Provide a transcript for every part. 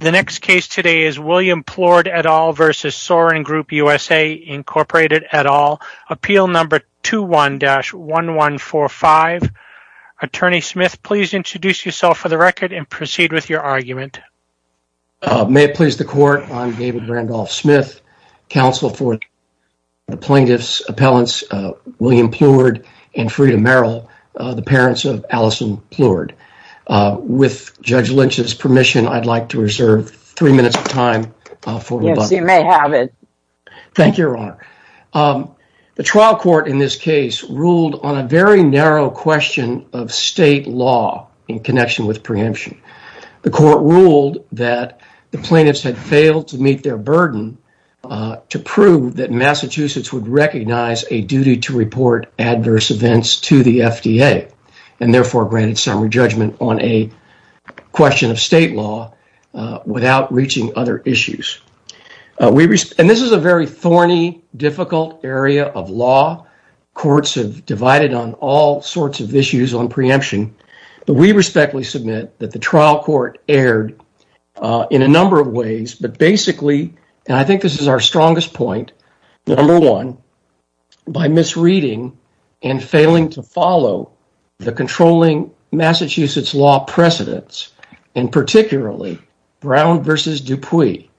The next case today is William Plourde et al. v. Sorin Group USA, Inc. et al. Appeal number 21-1145. Attorney Smith, please introduce yourself for the record and proceed with your argument. May it please the court, I'm David Randolph Smith, counsel for the plaintiffs, appellants William Plourde and Freda Merrill, the parents of Allison Plourde. With Judge Lynch's permission, I'd like to reserve three minutes of time for rebuttal. Yes, you may have it. Thank you, Your Honor. The trial court in this case ruled on a very narrow question of state law in connection with preemption. The court ruled that the plaintiffs had failed to meet their burden to prove that Massachusetts would recognize a duty to report adverse events to the FDA and therefore granted summary judgment on a question of state law without reaching other issues. And this is a very thorny, difficult area of law. Courts have divided on all sorts of issues on preemption, but we respectfully submit that the trial court erred in a number of ways, but basically, and I think this is our strongest point, number one, by misreading and failing to follow the controlling Massachusetts law precedents, and particularly Brown v. Dupuy,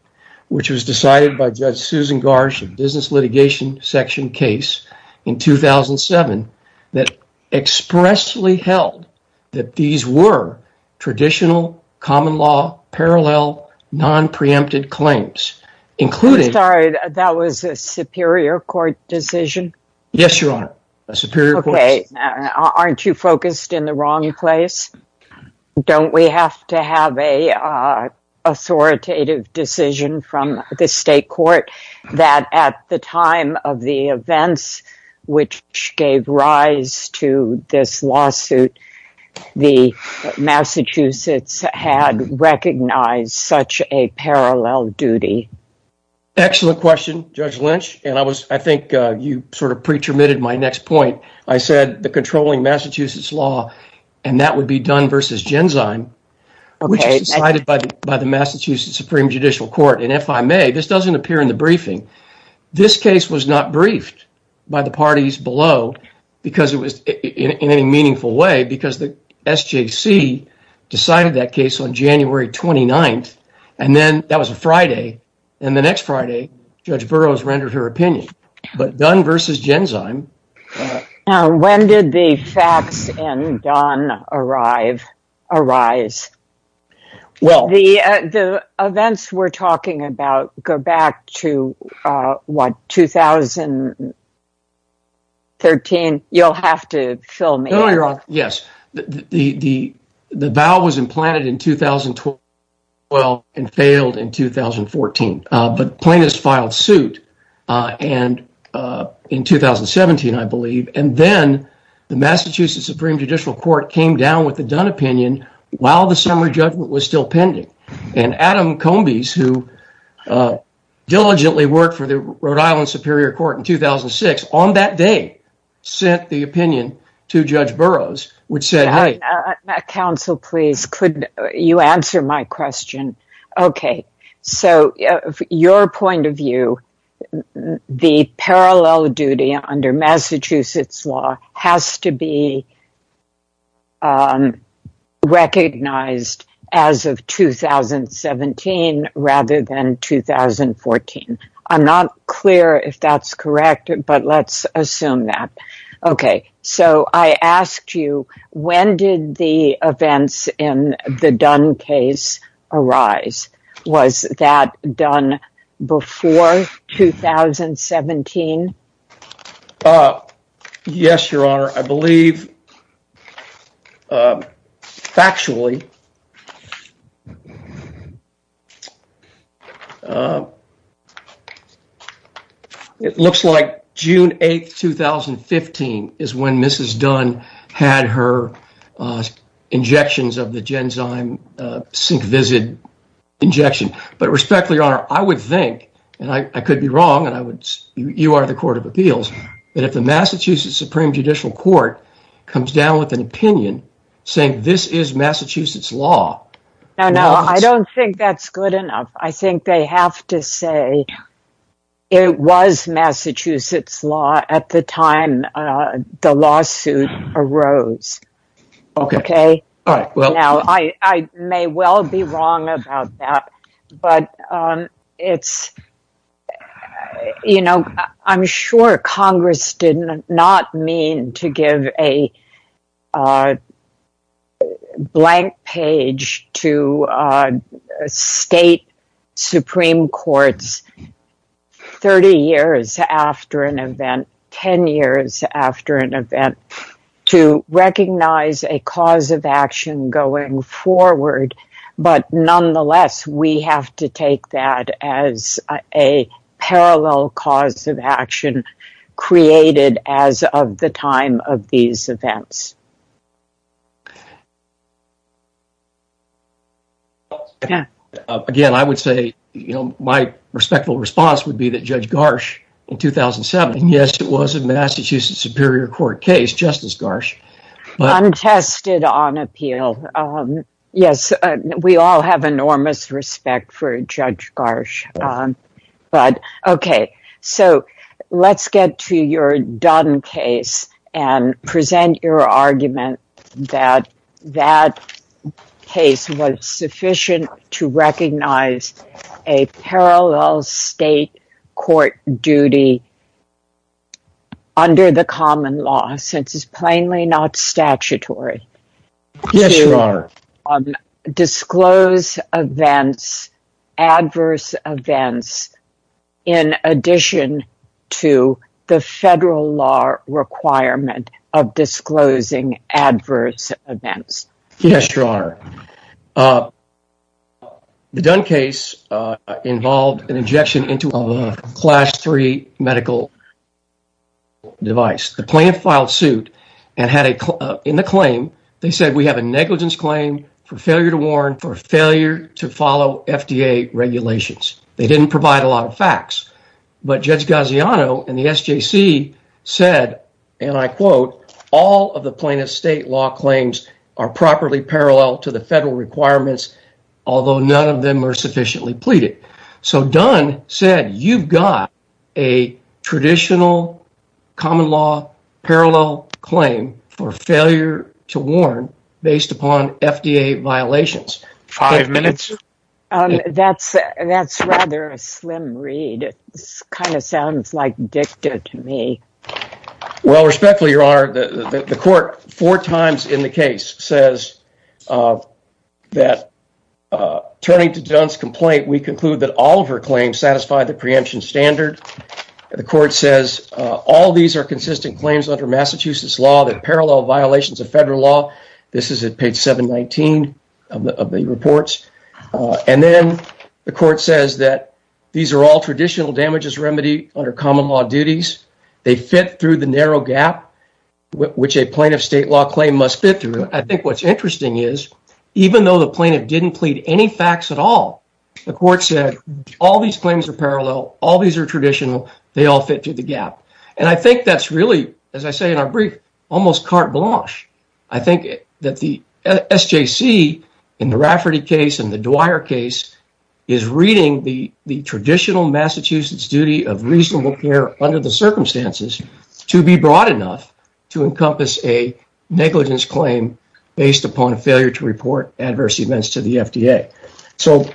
which was decided by Judge Susan Garsh in the business litigation section case in 2007, that expressly held that these were traditional common law parallel non-preempted claims, including... I'm sorry, that was a superior court decision? Yes, Your Honor, a superior court decision. Aren't you focused in the wrong place? Don't we have to have an authoritative decision from the state court that at the time of the events which gave rise to this lawsuit, the Massachusetts had recognized such a parallel duty? Excellent question, Judge Lynch, and I was, you sort of pre-terminated my next point. I said the controlling Massachusetts law, and that would be done versus Genzyme, which was decided by the Massachusetts Supreme Judicial Court, and if I may, this doesn't appear in the briefing, this case was not briefed by the parties below because it was in any meaningful way, because the SJC decided that case on January 29th, and then that was a Friday, and the next Friday, Judge Burroughs rendered her opinion, but done versus Genzyme... Now, when did the facts and done arise? Well, the events we're talking about go back to what, 2013? You'll have to fill me in. No, failed in 2014, but plaintiffs filed suit in 2017, I believe, and then the Massachusetts Supreme Judicial Court came down with a done opinion while the summary judgment was still pending, and Adam Combes, who diligently worked for the Rhode Island Superior Court in 2006, on that day, sent the opinion to Judge Burroughs, which said... Counsel, please, could you answer my question? Okay, so your point of view, the parallel duty under Massachusetts law has to be recognized as of 2017 rather than 2014. I'm not clear if that's correct, but let's assume that. Okay, so I asked you, when did the events in the done case arise? Was that done before 2017? Yes, your honor. I believe, factually, it looks like June 8th, 2015 is when Mrs. Dunn had her injections of the Genzyme SyncVisid injection, but respectfully, your honor, I would think, and I could be wrong, you are the Court of Appeals, but if the Massachusetts Supreme Judicial Court comes down with an opinion saying this is Massachusetts law... No, no, I don't think that's good enough. I think they have to say it was Massachusetts law at the time the lawsuit arose, okay? Now, I may well be wrong about that, but I'm sure Congress did not mean to give a blank page to state supreme courts 30 years after an event, 10 years after an event, to recognize a cause of action going forward, but nonetheless, we have to take that as a parallel cause of action created as of the time of these events. Again, I would say, you know, my respectful response would be that Judge Garsh in 2007, and yes, it was a Massachusetts Superior Court case, Justice Garsh... Appeal. Yes, we all have enormous respect for Judge Garsh, but okay, so let's get to your Dunn case and present your argument that that case was sufficient to recognize a parallel state court duty under the common law since it's plainly not statutory to disclose adverse events in addition to the federal law requirement of disclosing adverse events. Yes, Your Honor. Uh, the Dunn case involved an injection into a class 3 medical device. The plaintiff filed suit and had in the claim, they said, we have a negligence claim for failure to warn for failure to follow FDA regulations. They didn't provide a lot of facts, but Judge Gaziano and the SJC said, and I quote, all of the plaintiff's state law claims are properly parallel to the federal requirements, although none of them are sufficiently pleaded. So, Dunn said, you've got a traditional common law parallel claim for failure to warn based upon FDA violations. Five minutes. That's rather a slim read. It kind of sounds like dicta to me. Well, respectfully, Your Honor, the court four times in the case says that turning to Dunn's complaint, we conclude that all of her claims satisfy the preemption standard. The court says, all of these are consistent claims under Massachusetts law that parallel violations of federal law. This is at page 719 of the reports. And then the court says that these are all traditional damages remedy under common law duties. They fit through the narrow gap, which a plaintiff's state law claim must fit through. I think what's interesting is, even though the plaintiff didn't plead any facts at all, the court said, all these claims are parallel. All these are traditional. They all fit through the gap. And I think that's really, as I say in our brief, almost carte blanche. I think that the SJC in the Rafferty case and the Dwyer case is reading the traditional Massachusetts duty of reasonable care under the circumstances to be broad enough to encompass a negligence claim based upon a failure to report adverse events to the FDA. So,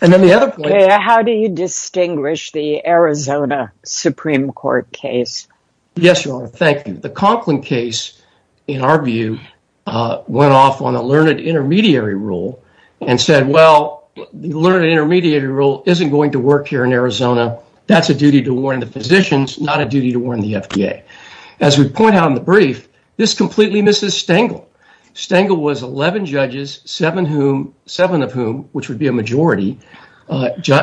and then the other point... How do you distinguish the Arizona Supreme Court case? Yes, Your Honor, thank you. The Conklin case, in our view, went off on a learned intermediary rule and said, well, the learned intermediary rule isn't going to work here in Arizona. That's a duty to warn the physicians, not a duty to warn the FDA. As we point out in the brief, this completely misses Stengel. Stengel was 11 judges, seven of whom, which would be a majority,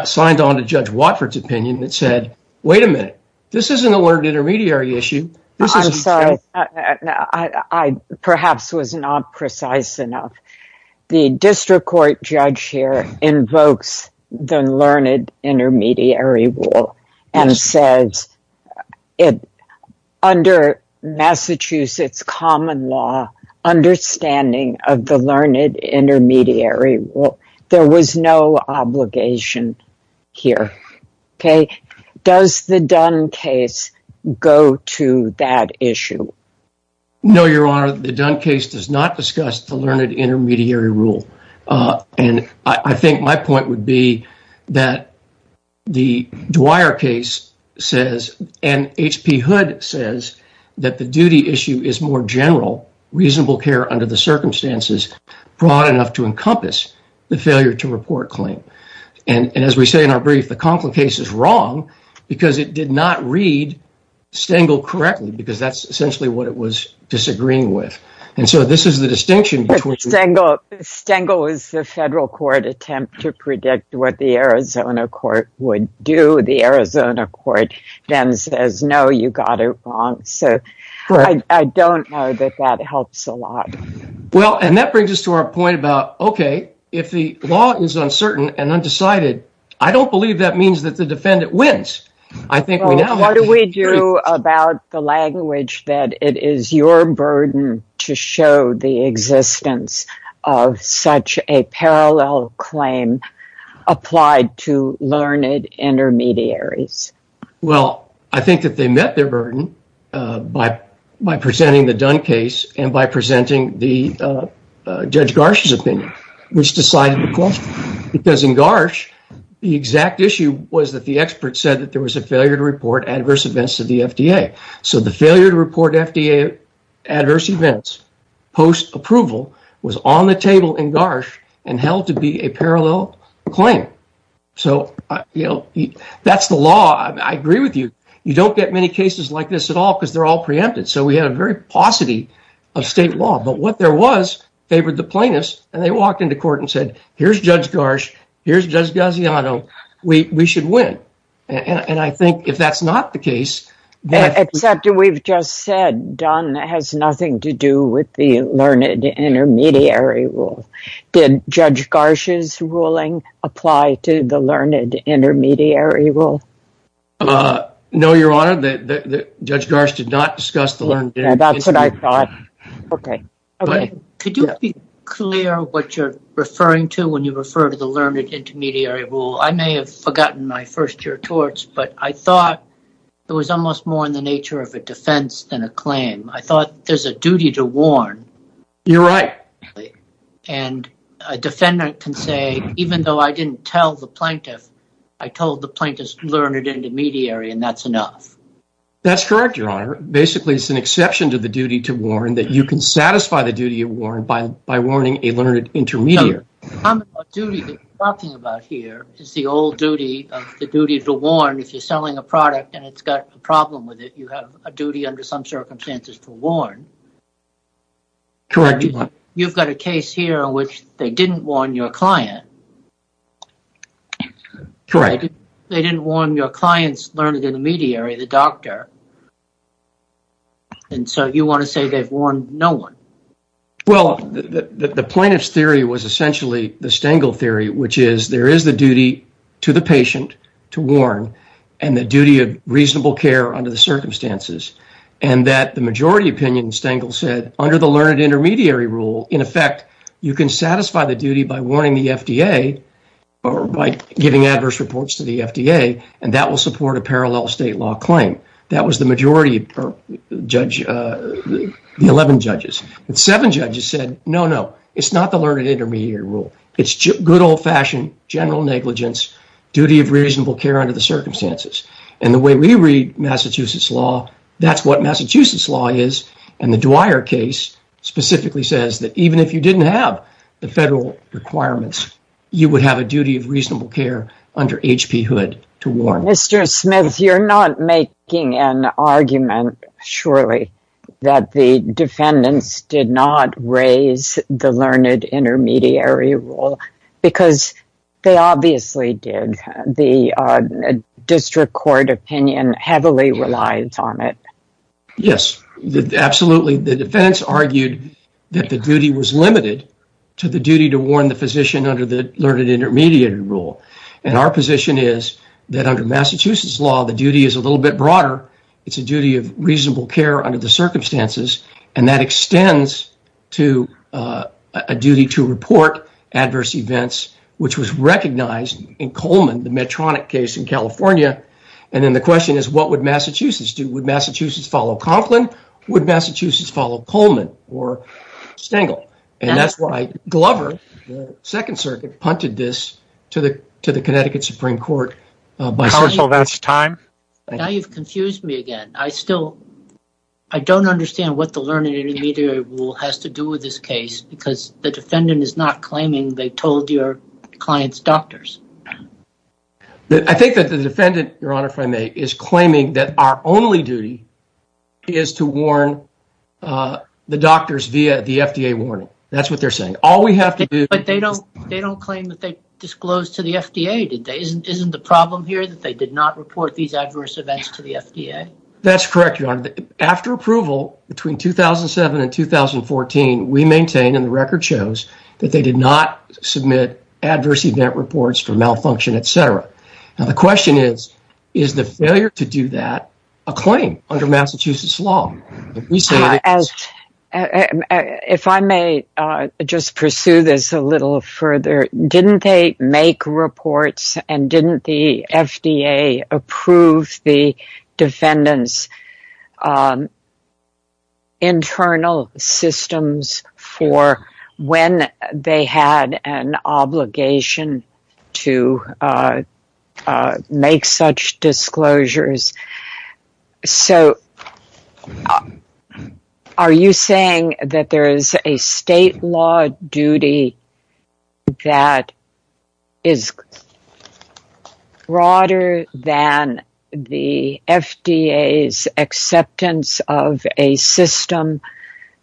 signed on to Judge Watford's opinion that said, wait a minute, this isn't a learned intermediary issue. I'm sorry, I perhaps was not precise enough. The district court judge here invokes the learned intermediary rule and says, under Massachusetts common law, understanding of the learned intermediary rule, there was no obligation here. Okay. Does the Dunn case go to that issue? No, Your Honor, the Dunn case does not discuss the learned intermediary rule. And I think my case says, and H.P. Hood says, that the duty issue is more general, reasonable care under the circumstances, broad enough to encompass the failure to report claim. And as we say in our brief, the Conklin case is wrong because it did not read Stengel correctly, because that's essentially what it was disagreeing with. And so this is the distinction. Stengel is the federal court attempt to predict what the Arizona court would do. The Arizona court then says, no, you got it wrong. So I don't know that that helps a lot. Well, and that brings us to our point about, okay, if the law is uncertain and undecided, I don't believe that means that the defendant wins. What do we do about the language that it is your burden to show the existence of such a parallel claim applied to learned intermediaries? Well, I think that they met their burden by presenting the Dunn case and by presenting the Judge Garsh's opinion, which decided the question. Because in Garsh, the exact issue was that the expert said that there was a failure to report adverse events to the FDA. So the failure to report FDA adverse events post-approval was on the table in Garsh and held to be a parallel claim. So that's the law. I agree with you. You don't get many cases like this at all because they're all preempted. So we had a very paucity of state law. But what there was favored the plaintiffs, and they walked into court and said, here's Judge Garsh, here's Judge Gaziano, we should win. And I think if that's not the case. Except we've just said Dunn has nothing to do with the learned intermediary rule. Did Judge Garsh's ruling apply to the learned intermediary rule? No, Your Honor, Judge Garsh did not discuss the learned intermediary. That's what I thought. Okay. Could you be clear what you're referring to when you refer to the learned intermediary rule? I may have forgotten my first year of torts, but I thought it was almost more in the nature of a defense than a claim. I thought there's a duty to warn. You're right. And a defendant can say, even though I didn't tell the plaintiff, I told the plaintiff's learned intermediary and that's enough. That's correct, Your Honor. Basically, it's an exception to the duty to warn that you can satisfy the duty of by warning a learned intermediary. The duty you're talking about here is the old duty of the duty to warn if you're selling a product and it's got a problem with it, you have a duty under some circumstances to warn. Correct. You've got a case here in which they didn't warn your client. Correct. They didn't warn your client's learned intermediary, the doctor. And so you want to say they've warned no one? Well, the plaintiff's theory was essentially the Stengel theory, which is there is the duty to the patient to warn and the duty of reasonable care under the circumstances. And that the majority opinion, Stengel said, under the learned intermediary rule, in effect, you can satisfy the duty by warning the FDA or by giving adverse reports to the FDA, and that will support a parallel state law claim. That was the majority judge, the 11 judges. But seven judges said, no, no, it's not the learned intermediary rule. It's good old fashioned general negligence, duty of reasonable care under the circumstances. And the way we read Massachusetts law, that's what Massachusetts law is. And the Dwyer case specifically says that even if you didn't have the federal requirements, you would have a duty of reasonable care under H.P. Hood to warn. Mr. Smith, you're not making an argument, surely, that the defendants did not raise the learned intermediary rule, because they obviously did. The district court opinion heavily relies on it. Yes, absolutely. The defendants argued that the duty was limited to the duty to warn the physician under the learned intermediary rule. And our position is that under Massachusetts law, the duty is a little bit broader. It's a duty of reasonable care under the circumstances. And that extends to a duty to report adverse events, which was recognized in Coleman, the Medtronic case in California. And then the question is, what would Massachusetts do? Would Massachusetts follow Conklin? Would Massachusetts follow Coleman or Stengel? And that's why Glover, the Second Circuit, punted this to the Connecticut Supreme Court. Now you've confused me again. I still, I don't understand what the learned intermediary rule has to do with this case, because the defendant is not claiming they told your client's doctors. I think that the defendant, Your Honor, if I may, is claiming that our only duty is to warn the doctors via the FDA warning. That's what they're saying. All we have to do... But they don't claim that they disclosed to the FDA. Isn't the problem here that they did not report these adverse events to the FDA? That's correct, Your Honor. After approval, between 2007 and 2014, we maintain and the record shows that they did not submit adverse event reports for malfunction, et cetera. Now the question is, is the failure to do that a claim under Massachusetts law? If I may just pursue this a little further, didn't they make reports and didn't the FDA approve the defendant's internal systems for when they had an obligation to make such disclosures? So are you saying that there is a state law duty that is broader than the FDA's acceptance of a system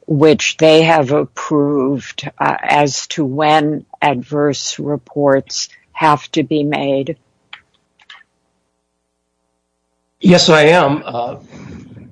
which they have approved as to when adverse reports have to be made? Yes, I am.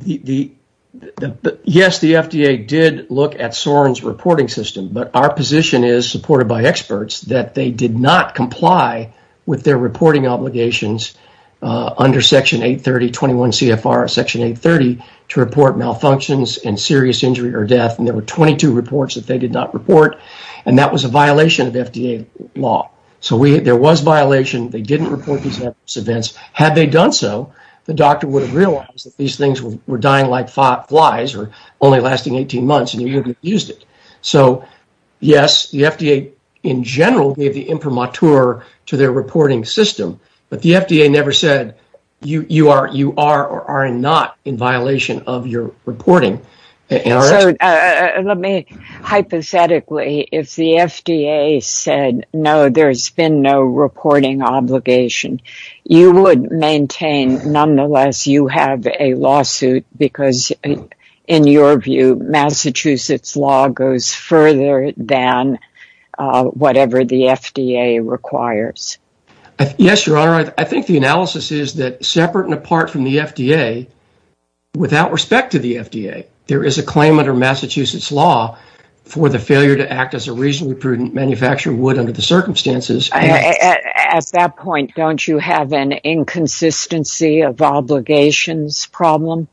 Yes, the FDA did look at Soren's reporting system, but our position is, supported by experts, that they did not comply with their reporting obligations under Section 830, 21 CFR Section 830, to report malfunctions and serious injury or death, and there were 22 reports that they did not report, and that was a violation of FDA law. So there was violation. They didn't report these adverse events. Had they done so, the doctor would have realized that these things were dying like flies or only lasting 18 months, and you wouldn't have used it. So yes, the FDA, in general, gave the imprimatur to their reporting system, but the FDA never said, you are or are not in violation of your reporting. Let me hypothetically, if the FDA said, no, there's been no reporting obligation, you would maintain, nonetheless, you have a lawsuit because, in your view, Massachusetts law goes further than whatever the FDA requires? Yes, Your Honor. I think the analysis is that, separate and apart from the FDA, without respect to the FDA, there is a claim under Massachusetts law for the failure to act as a reasonably prudent manufacturer would under the circumstances. At that point, don't you have an inconsistency of obligations problem?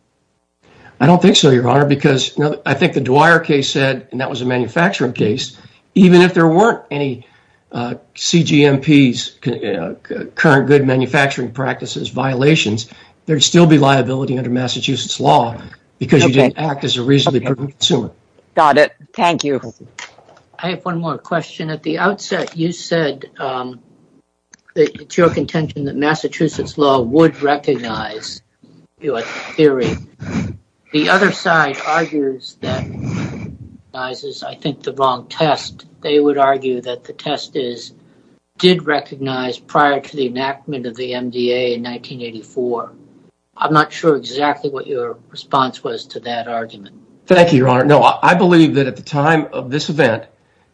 I don't think so, Your Honor, because I think the Dwyer case said, and that was a manufacturing case, even if there weren't any CGMPs, current good manufacturing practices violations, there'd still be liability under Massachusetts law because you didn't act as a reasonably prudent consumer. Got it. Thank you. I have one more question. At the outset, you said that it's your contention that Massachusetts law would recognize your theory. The other side argues that it recognizes, I think, the wrong test. They would argue that the test did recognize prior to the enactment of the MDA in 1984. I'm not sure exactly what your response was to that argument. Thank you, Your Honor. No, I believe that at the time of this event,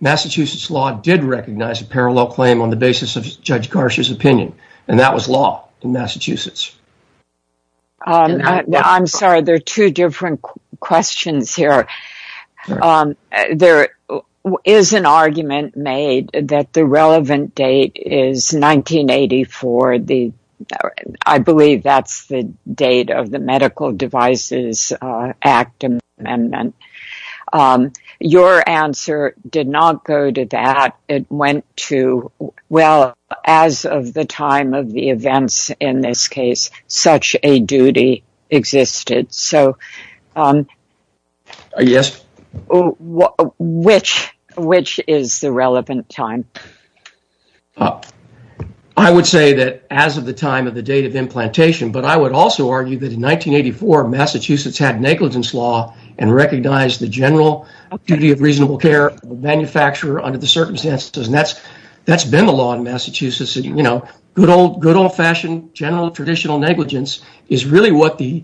Massachusetts law did recognize a parallel claim on the basis of Judge Garsha's opinion, and that was law in Massachusetts. I'm sorry, there are two different questions here. There is an argument made that the relevant date is 1984. I believe that's the date of the Medical Devices Act amendment. Your answer did not go to that. It went to, well, as of the time of the events in this case, such a duty existed. Yes. Which is the relevant time? I would say that as of the time of the date of implantation, but I would also argue that in 1984, Massachusetts had negligence law and recognized the general duty of reasonable care of the manufacturer under the circumstances. That's been the law in Massachusetts. Good old-fashioned general traditional negligence is really what the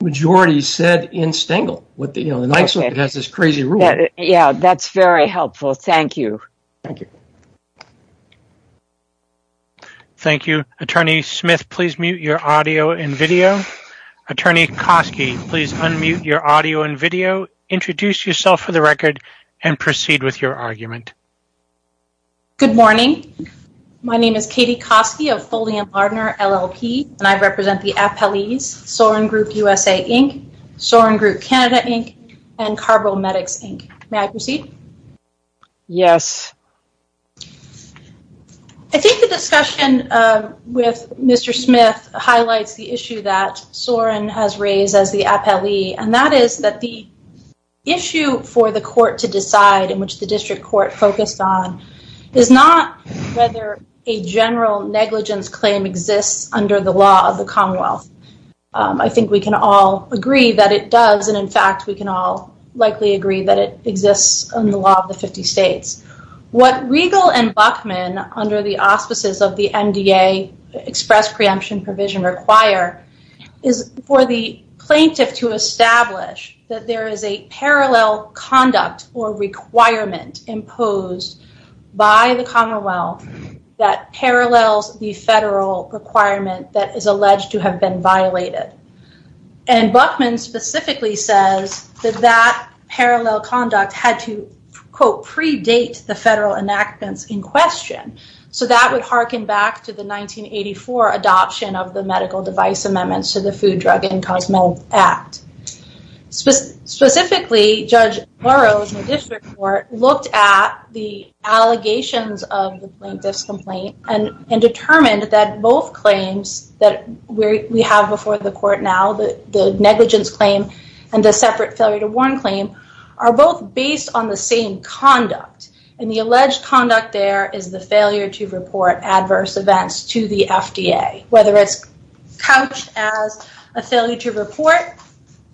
majority said in Stengel. The Knights has this crazy rule. That's very helpful. Thank you. Thank you. Attorney Smith, please mute your audio and video. Attorney Koski, please unmute your audio and video. Introduce yourself for the record and proceed with your argument. Good morning. My name is Katie Koski of Foley and Lardner LLP, and I represent the appellees Soren Group USA, Inc., Soren Group Canada, Inc., and Carbomedics, Inc. May I proceed? Yes. I think the discussion with Mr. Smith highlights the issue that Soren has raised as the appellee, and that is that the issue for the court to decide in which the district court focused on is not whether a general negligence claim exists under the law of the Commonwealth. I think we can all agree that it does, and in fact, we can all likely agree that it exists under the law of the 50 states. What Riegel and Bachman, under the auspices of the MDA express preemption provision require, is for the plaintiff to establish that there is a parallel conduct or requirement imposed by the Commonwealth that parallels the federal requirement that is alleged to have been violated. And Bachman specifically says that that parallel conduct had to, quote, predate the federal enactments in question. So that would hearken back to the 1984 adoption of the medical device amendments to the Food, Drug, and Cosmetic Act. Specifically, Judge Burroughs in the district court looked at the allegations of the plaintiff's complaint and determined that both claims that we have before the court now, the negligence claim and the separate failure to warn claim, are both based on the same conduct. And the alleged conduct there is the failure to report adverse events to the FDA, whether it's couched as a failure to report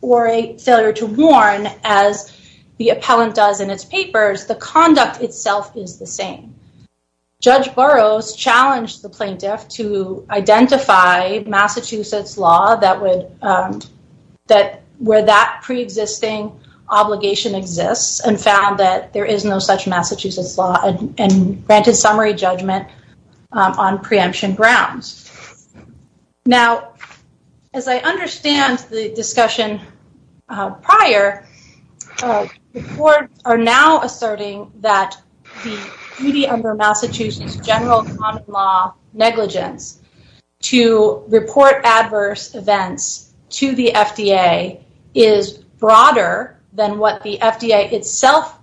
or a failure to warn as the appellant does in its papers, the conduct itself is the same. Judge Burroughs challenged the plaintiff to identify Massachusetts law that would, that where that pre-existing obligation exists and found that there is no such Massachusetts law and granted summary judgment on preemption grounds. Now, as I understand the discussion prior, the court are now asserting that the negligence to report adverse events to the FDA is broader than what the FDA itself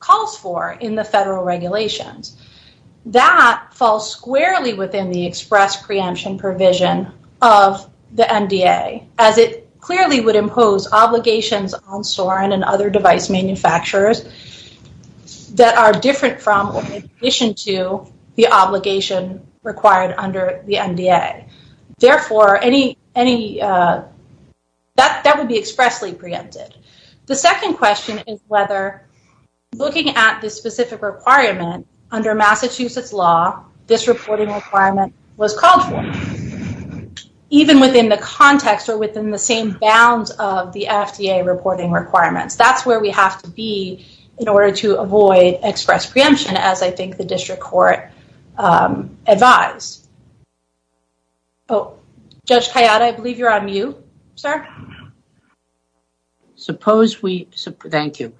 calls for in the federal regulations. That falls squarely within the express preemption provision of the NDA, as it clearly would impose obligations on Soren and other device manufacturers that are different from or in addition to the obligation required under the NDA. Therefore, any, any, uh, that, that would be expressly preempted. The second question is whether looking at the specific requirement under Massachusetts law, this reporting requirement was called for even within the context or within the same bounds of the FDA reporting requirements. That's where we have to be in order to avoid express preemption, as I think the district court advised. Oh, Judge Kayada, I believe you're on mute, sir. Suppose we, thank you.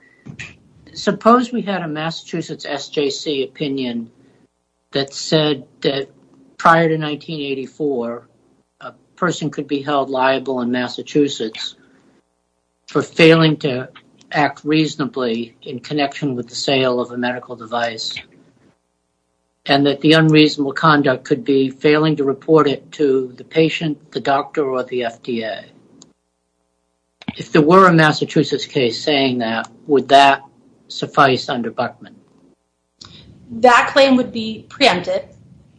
Suppose we had a Massachusetts SJC opinion that said that in 1984, a person could be held liable in Massachusetts for failing to act reasonably in connection with the sale of a medical device and that the unreasonable conduct could be failing to report it to the patient, the doctor, or the FDA. If there were a Massachusetts case saying that, would that suffice under Buchman? Um, that claim would be preempted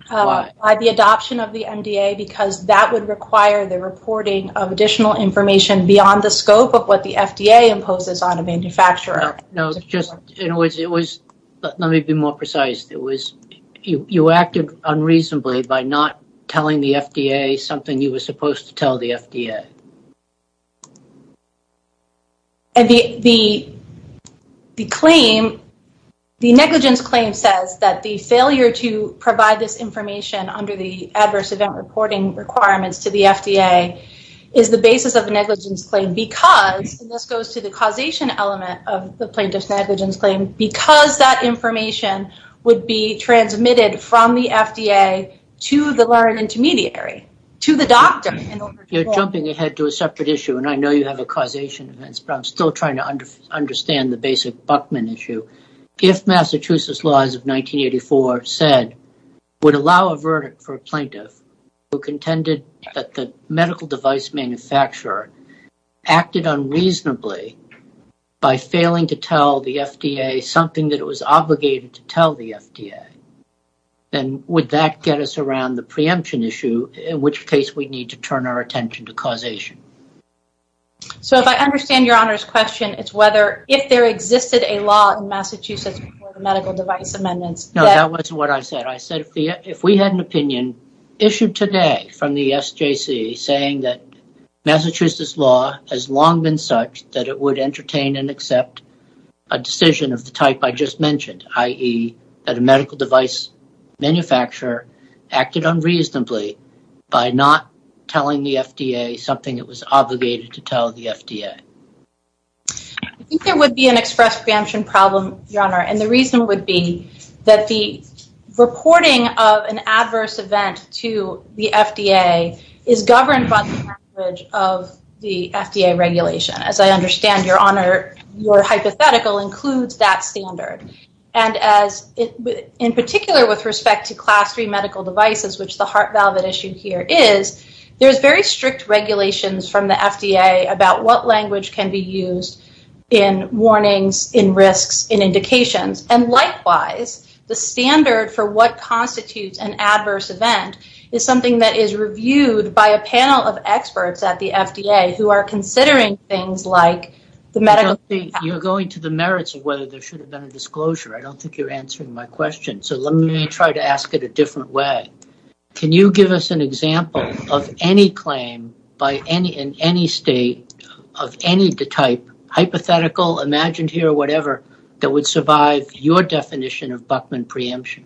by the adoption of the NDA because that would require the reporting of additional information beyond the scope of what the FDA imposes on a manufacturer. No, just in other words, it was, let me be more precise. It was, you, you acted unreasonably by not telling the FDA something you were supposed to tell the FDA. And the, the, the claim, the negligence claim says that the failure to provide this information under the adverse event reporting requirements to the FDA is the basis of the negligence claim because, and this goes to the causation element of the plaintiff's negligence claim, because that information would be transmitted from the FDA to the learned intermediary, to the doctor. You're jumping ahead to a separate issue and I know you have a causation event, but I'm still trying to understand the basic Buchman issue. If Massachusetts laws of 1984 said, would allow a verdict for a plaintiff who contended that the medical device manufacturer acted unreasonably by failing to tell the FDA something that it was obligated to tell the FDA, then would that get us around the preemption issue? In which case we need to turn our attention to causation. So if I understand your Honor's question, it's whether, if there existed a law in Massachusetts for the medical device amendments. No, that wasn't what I said. I said, if we had an opinion issued today from the SJC saying that Massachusetts law has long been such that it would entertain and accept a decision of the medical device manufacturer acted unreasonably by not telling the FDA something it was obligated to tell the FDA. I think there would be an express preemption problem, Your Honor. And the reason would be that the reporting of an adverse event to the FDA is governed by the language of the FDA regulation. As I understand Your Honor, your hypothetical includes that standard. And as in particular with respect to class three medical devices, which the heart valve that issued here is, there's very strict regulations from the FDA about what language can be used in warnings, in risks, in indications. And likewise, the standard for what constitutes an adverse event is something that is reviewed by a panel of experts at the FDA who are considering things like the medical- You're going to the merits of whether there should have been a disclosure. I don't think you're answering my question. So let me try to ask it a different way. Can you give us an example of any claim in any state of any type, hypothetical, imagined here, whatever, that would survive your definition of Buckman preemption?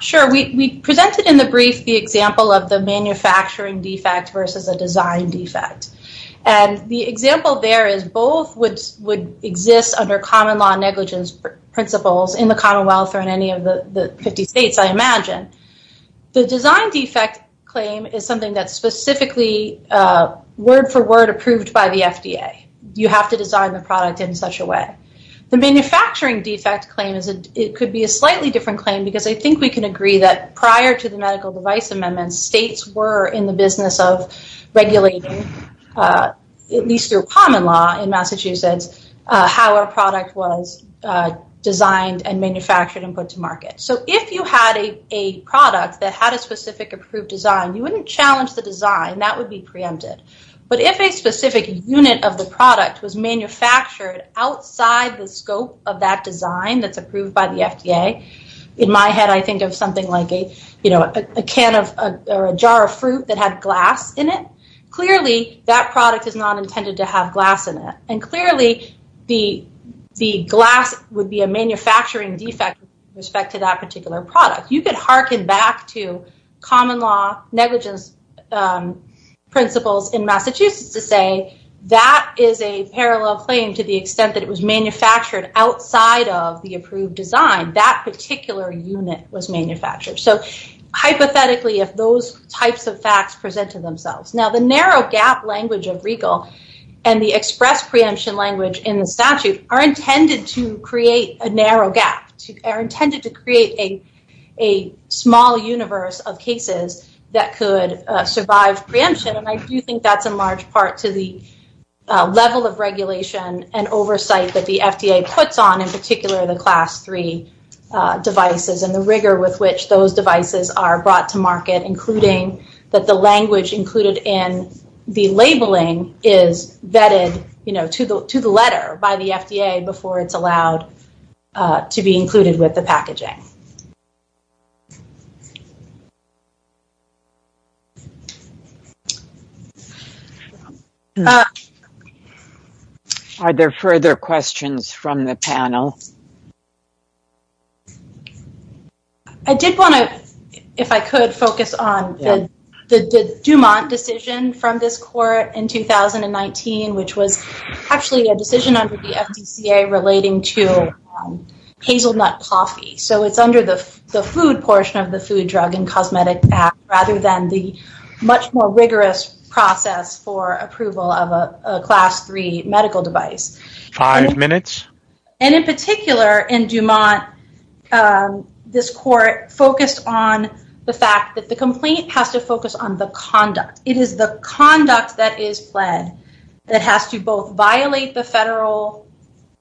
Sure. We presented in the brief the example of the manufacturing defect versus a design defect. And the example there is both would exist under common law negligence principles in the Commonwealth or in any of the 50 states, I imagine. The design defect claim is something that's specifically word for word approved by the FDA. You have to design the product in such a way. The manufacturing defect claim is it could be a slightly different claim because I think we can agree that prior to the medical device amendments, states were in the business of regulating, at least through common law in Massachusetts, how our product was designed and manufactured and put to market. So if you had a product that had a specific approved design, you wouldn't challenge the design, that would be preempted. But if a specific unit of the product was manufactured outside the scope of that design that's approved by the FDA, in my head, I think of something like a jar of fruit that had glass in it. Clearly, that product is not intended to have glass in it. And clearly, the glass would be a manufacturing defect respect to that particular product. You could hearken back to common law negligence principles in Massachusetts to say that is a parallel claim to the extent that it was manufactured outside of the approved design, that particular unit was manufactured. So hypothetically, if those types of facts present to themselves. Now, the narrow gap language of Regal and the express preemption language in the statute are intended to create a narrow gap, are intended to create a small universe of cases that could survive preemption. And I do think that's a in particular, the class three devices and the rigor with which those devices are brought to market, including that the language included in the labeling is vetted to the letter by the FDA before it's allowed to be included with the packaging. Are there further questions from the panel? I did want to, if I could focus on the Dumont decision from this court in 2019, which was actually a decision under the FDCA relating to hazelnut coffee. So it's under the food portion of the food drug and cosmetic rather than the much more rigorous process for approval of a class three medical device. Five minutes. And in particular in Dumont, this court focused on the fact that the complaint has to focus on it is the conduct that is pled that has to both violate the federal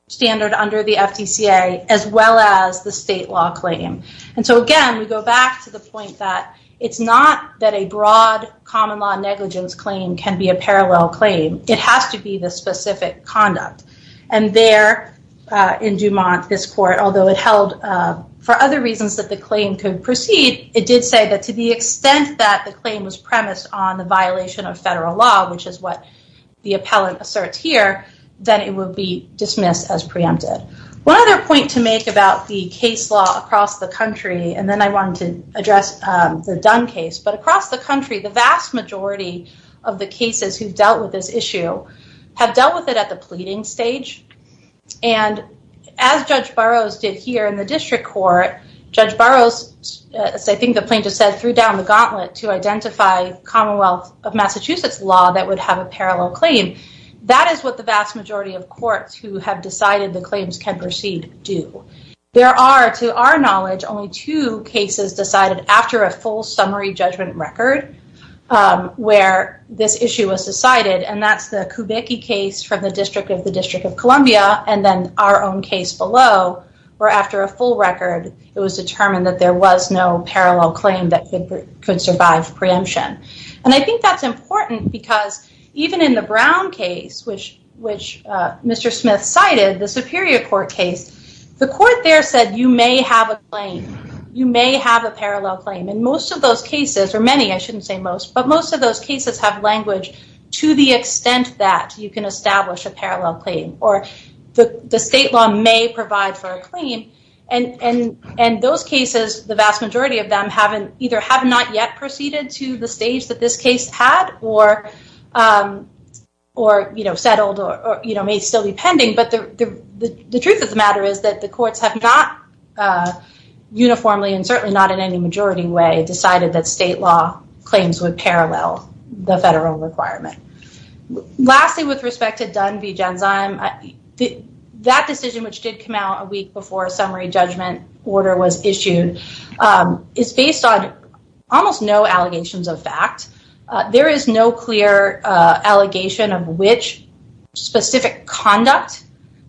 standard under the FDCA, as well as the state law claim. And so again, we go back to the point that it's not that a broad common law negligence claim can be a parallel claim. It has to be the specific conduct. And there in Dumont, this court, although it held for other reasons that the claim could proceed, it did say that to the extent that the claim was premised on the violation of federal law, which is what the appellant asserts here, that it would be dismissed as preempted. One other point to make about the case law across the country, and then I wanted to address the Dunn case, but across the country, the vast majority of the cases who've dealt with this issue have dealt with it at the pleading stage. And as judge Burroughs did here in the district court, judge Burroughs, as I think the plaintiff said, threw down the gauntlet to identify Commonwealth of Massachusetts law that would have a parallel claim. That is what the vast majority of courts who have decided the claims can proceed do. There are, to our knowledge, only two cases decided after a full summary judgment record where this issue was decided. And that's the Kubicki case from the district of the District of Columbia, and then our own case below, where after a full record, it was determined that there was no parallel claim that could survive preemption. And I think that's important because even in the Brown case, which Mr. Smith cited, the superior court case, the court there said, you may have a claim. You may have a parallel claim. And most of those cases, or many, I shouldn't say most, but most of those cases have language to the extent that you can establish a parallel claim, or the state law may provide for a claim. And those cases, the vast majority of them either have not yet proceeded to the stage that this case had or settled or may still be pending. But the truth of the matter is that the courts have not uniformly, and certainly not in any majority way, decided that state law claims would parallel the federal requirement. Lastly, with respect to Dunn v. Genzyme, that decision, which did come out a week before a summary judgment order was issued, is based on almost no allegations of fact. There is no clear allegation of which specific conduct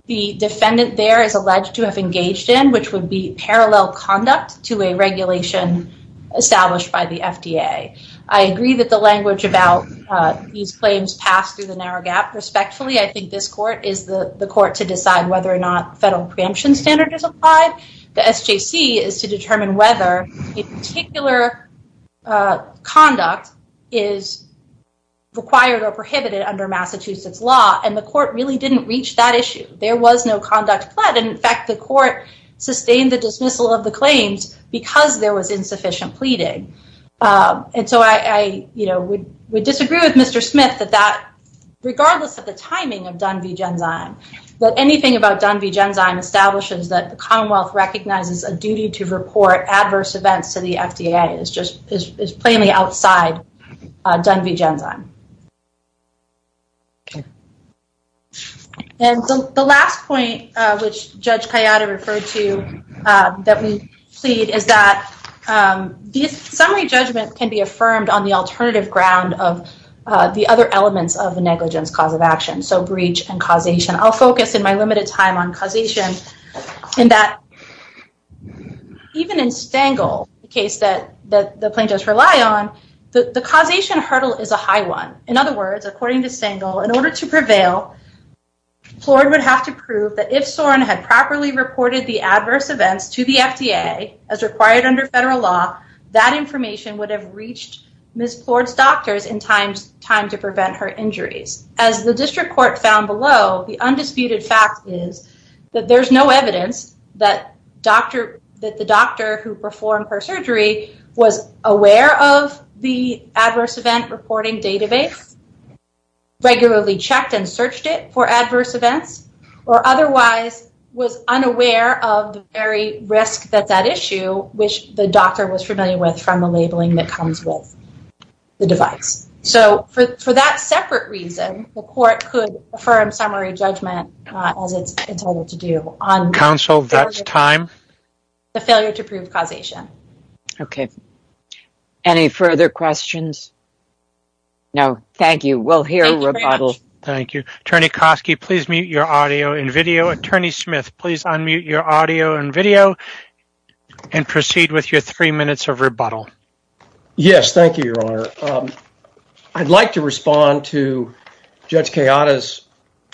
the defendant there is alleged to have engaged in, which would be parallel conduct to a regulation established by the FDA. I agree that the language about these claims pass through the narrow gap respectfully. I think this court is the court to decide whether or not federal preemption standard is applied. The SJC is to determine whether a particular conduct is required or prohibited under Massachusetts law. And the court really didn't reach that issue. There was no conduct plead. And in fact, the court sustained the dismissal of the claims because there was insufficient pleading. And so I, you know, would disagree with Mr. Smith that that, regardless of the timing of Dunn v. Genzyme, that anything about Dunn v. Genzyme establishes that the Commonwealth recognizes a duty to report adverse events to the FDA is just plainly outside Dunn v. Genzyme. And the last point, which Judge Kayada referred to, that we plead is that the summary judgment can be affirmed on the alternative ground of the other elements of the negligence cause of action. So breach and causation. I'll focus in my limited time on causation in that even in Stengel, the case that the plaintiffs rely on, the causation hurdle is a high one. In other words, according to Stengel, in order to prevail, Plord would have to prove that if Soren had properly reported the adverse events to the FDA as required under federal law, that information would have reached Ms. Plord's doctors in time to prevent her injuries. As the district court found below, the undisputed fact is that there's no evidence that the doctor who performed her surgery was aware of the adverse event reporting database, regularly checked and searched it for adverse events, or otherwise was unaware of the very risk that that issue, which the doctor was familiar with from the labeling that comes with the device. So for that separate reason, the court could affirm summary judgment as it's entitled to do. Counsel, that's time. The failure to prove causation. Okay. Any further questions? No. Thank you. We'll hear rebuttal. Thank you. Attorney Koski, please mute your audio and video. Attorney Smith, please unmute your audio and video and proceed with your three minutes of rebuttal. Yes. Thank you, Your Honor. I'd like to respond to Judge Kayada's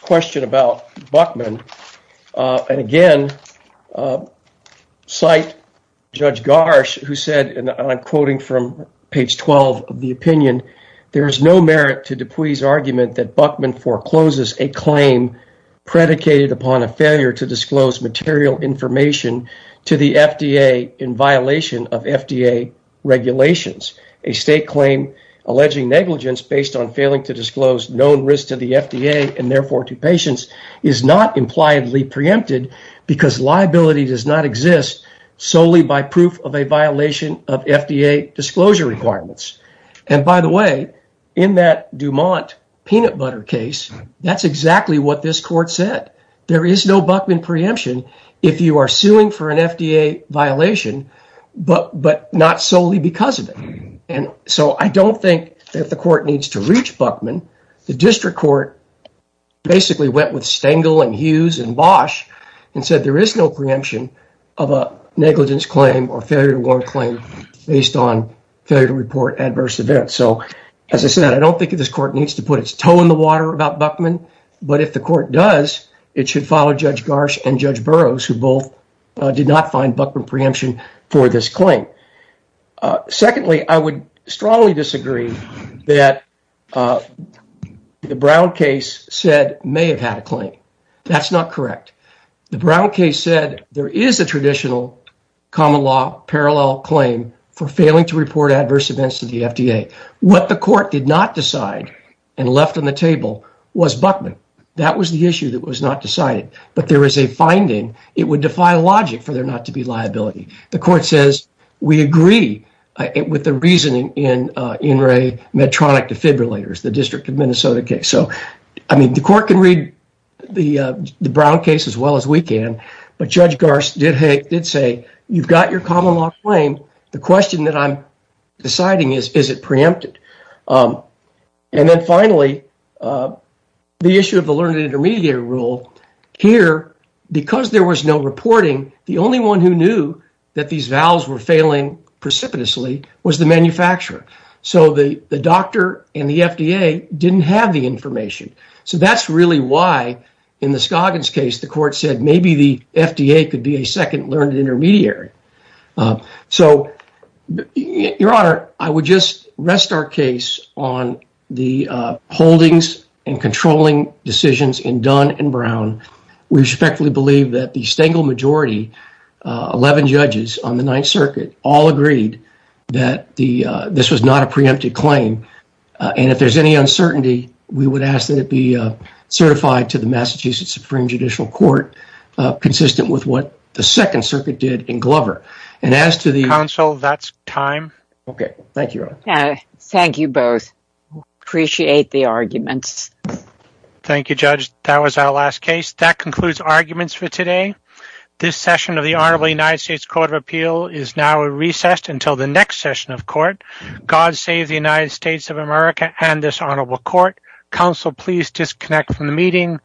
question about Buckman. And again, cite Judge Garsh, who said, and I'm quoting from page 12 of the opinion, there is no merit to Dupuy's argument that Buckman forecloses a claim predicated upon a failure to disclose material information to the FDA in violation of FDA regulations. A state claim alleging negligence based on failing to disclose known risk to the FDA and therefore to patients is not impliedly preempted because liability does not exist solely by proof of a violation of FDA disclosure requirements. And by the way, in that Dumont peanut butter case, that's exactly what this court said. There is no Buckman preemption if you are suing for an FDA violation, but not solely because of it. And so I don't think that the court needs to reach Buckman. The district court basically went with Stengel and Hughes and Bosch and said there is no preemption of a negligence claim or failure to warn claim based on failure to report adverse events. So as I said, I don't think this court needs to put its toe in the water about Buckman, but if the court does, it should follow Judge Garsh and Judge Burroughs, who both did not find Buckman preemption for this claim. Secondly, I would strongly disagree that the Brown case said may have had a claim. That's not correct. The Brown case said there is a traditional common law parallel claim for failing to report adverse events to the FDA. What the court did not decide and left on the table was Buckman. That was the issue that was not decided, but there is a finding it would defy logic for there not to be liability. The court says we agree with the reasoning in In re Medtronic defibrillators, the district of Minnesota case. So I mean the court can read the Brown case as well as we can, but Judge Garsh did say you've got your common law claim. The question that I'm deciding is, is it preempted? And then finally, the issue of the learned intermediary rule here, because there was no reporting, the only one who knew that these valves were failing precipitously was the manufacturer. So the doctor and the FDA didn't have the information. So that's really why in the Scoggins case, the court said maybe the So your honor, I would just rest our case on the holdings and controlling decisions in Dunn and Brown. We respectfully believe that the Stengel majority, 11 judges on the Ninth Circuit, all agreed that this was not a preempted claim. And if there's any uncertainty, we would ask that it be certified to the Massachusetts Supreme Judicial Court, consistent with what the Second Circuit did in Glover. And as to the- Counsel, that's time. Okay. Thank you. Thank you both. Appreciate the arguments. Thank you, Judge. That was our last case. That concludes arguments for today. This session of the Honorable United States Court of Appeal is now recessed until the next session of court. God save the United States of America and this honorable court. Counsel, please disconnect from the meeting.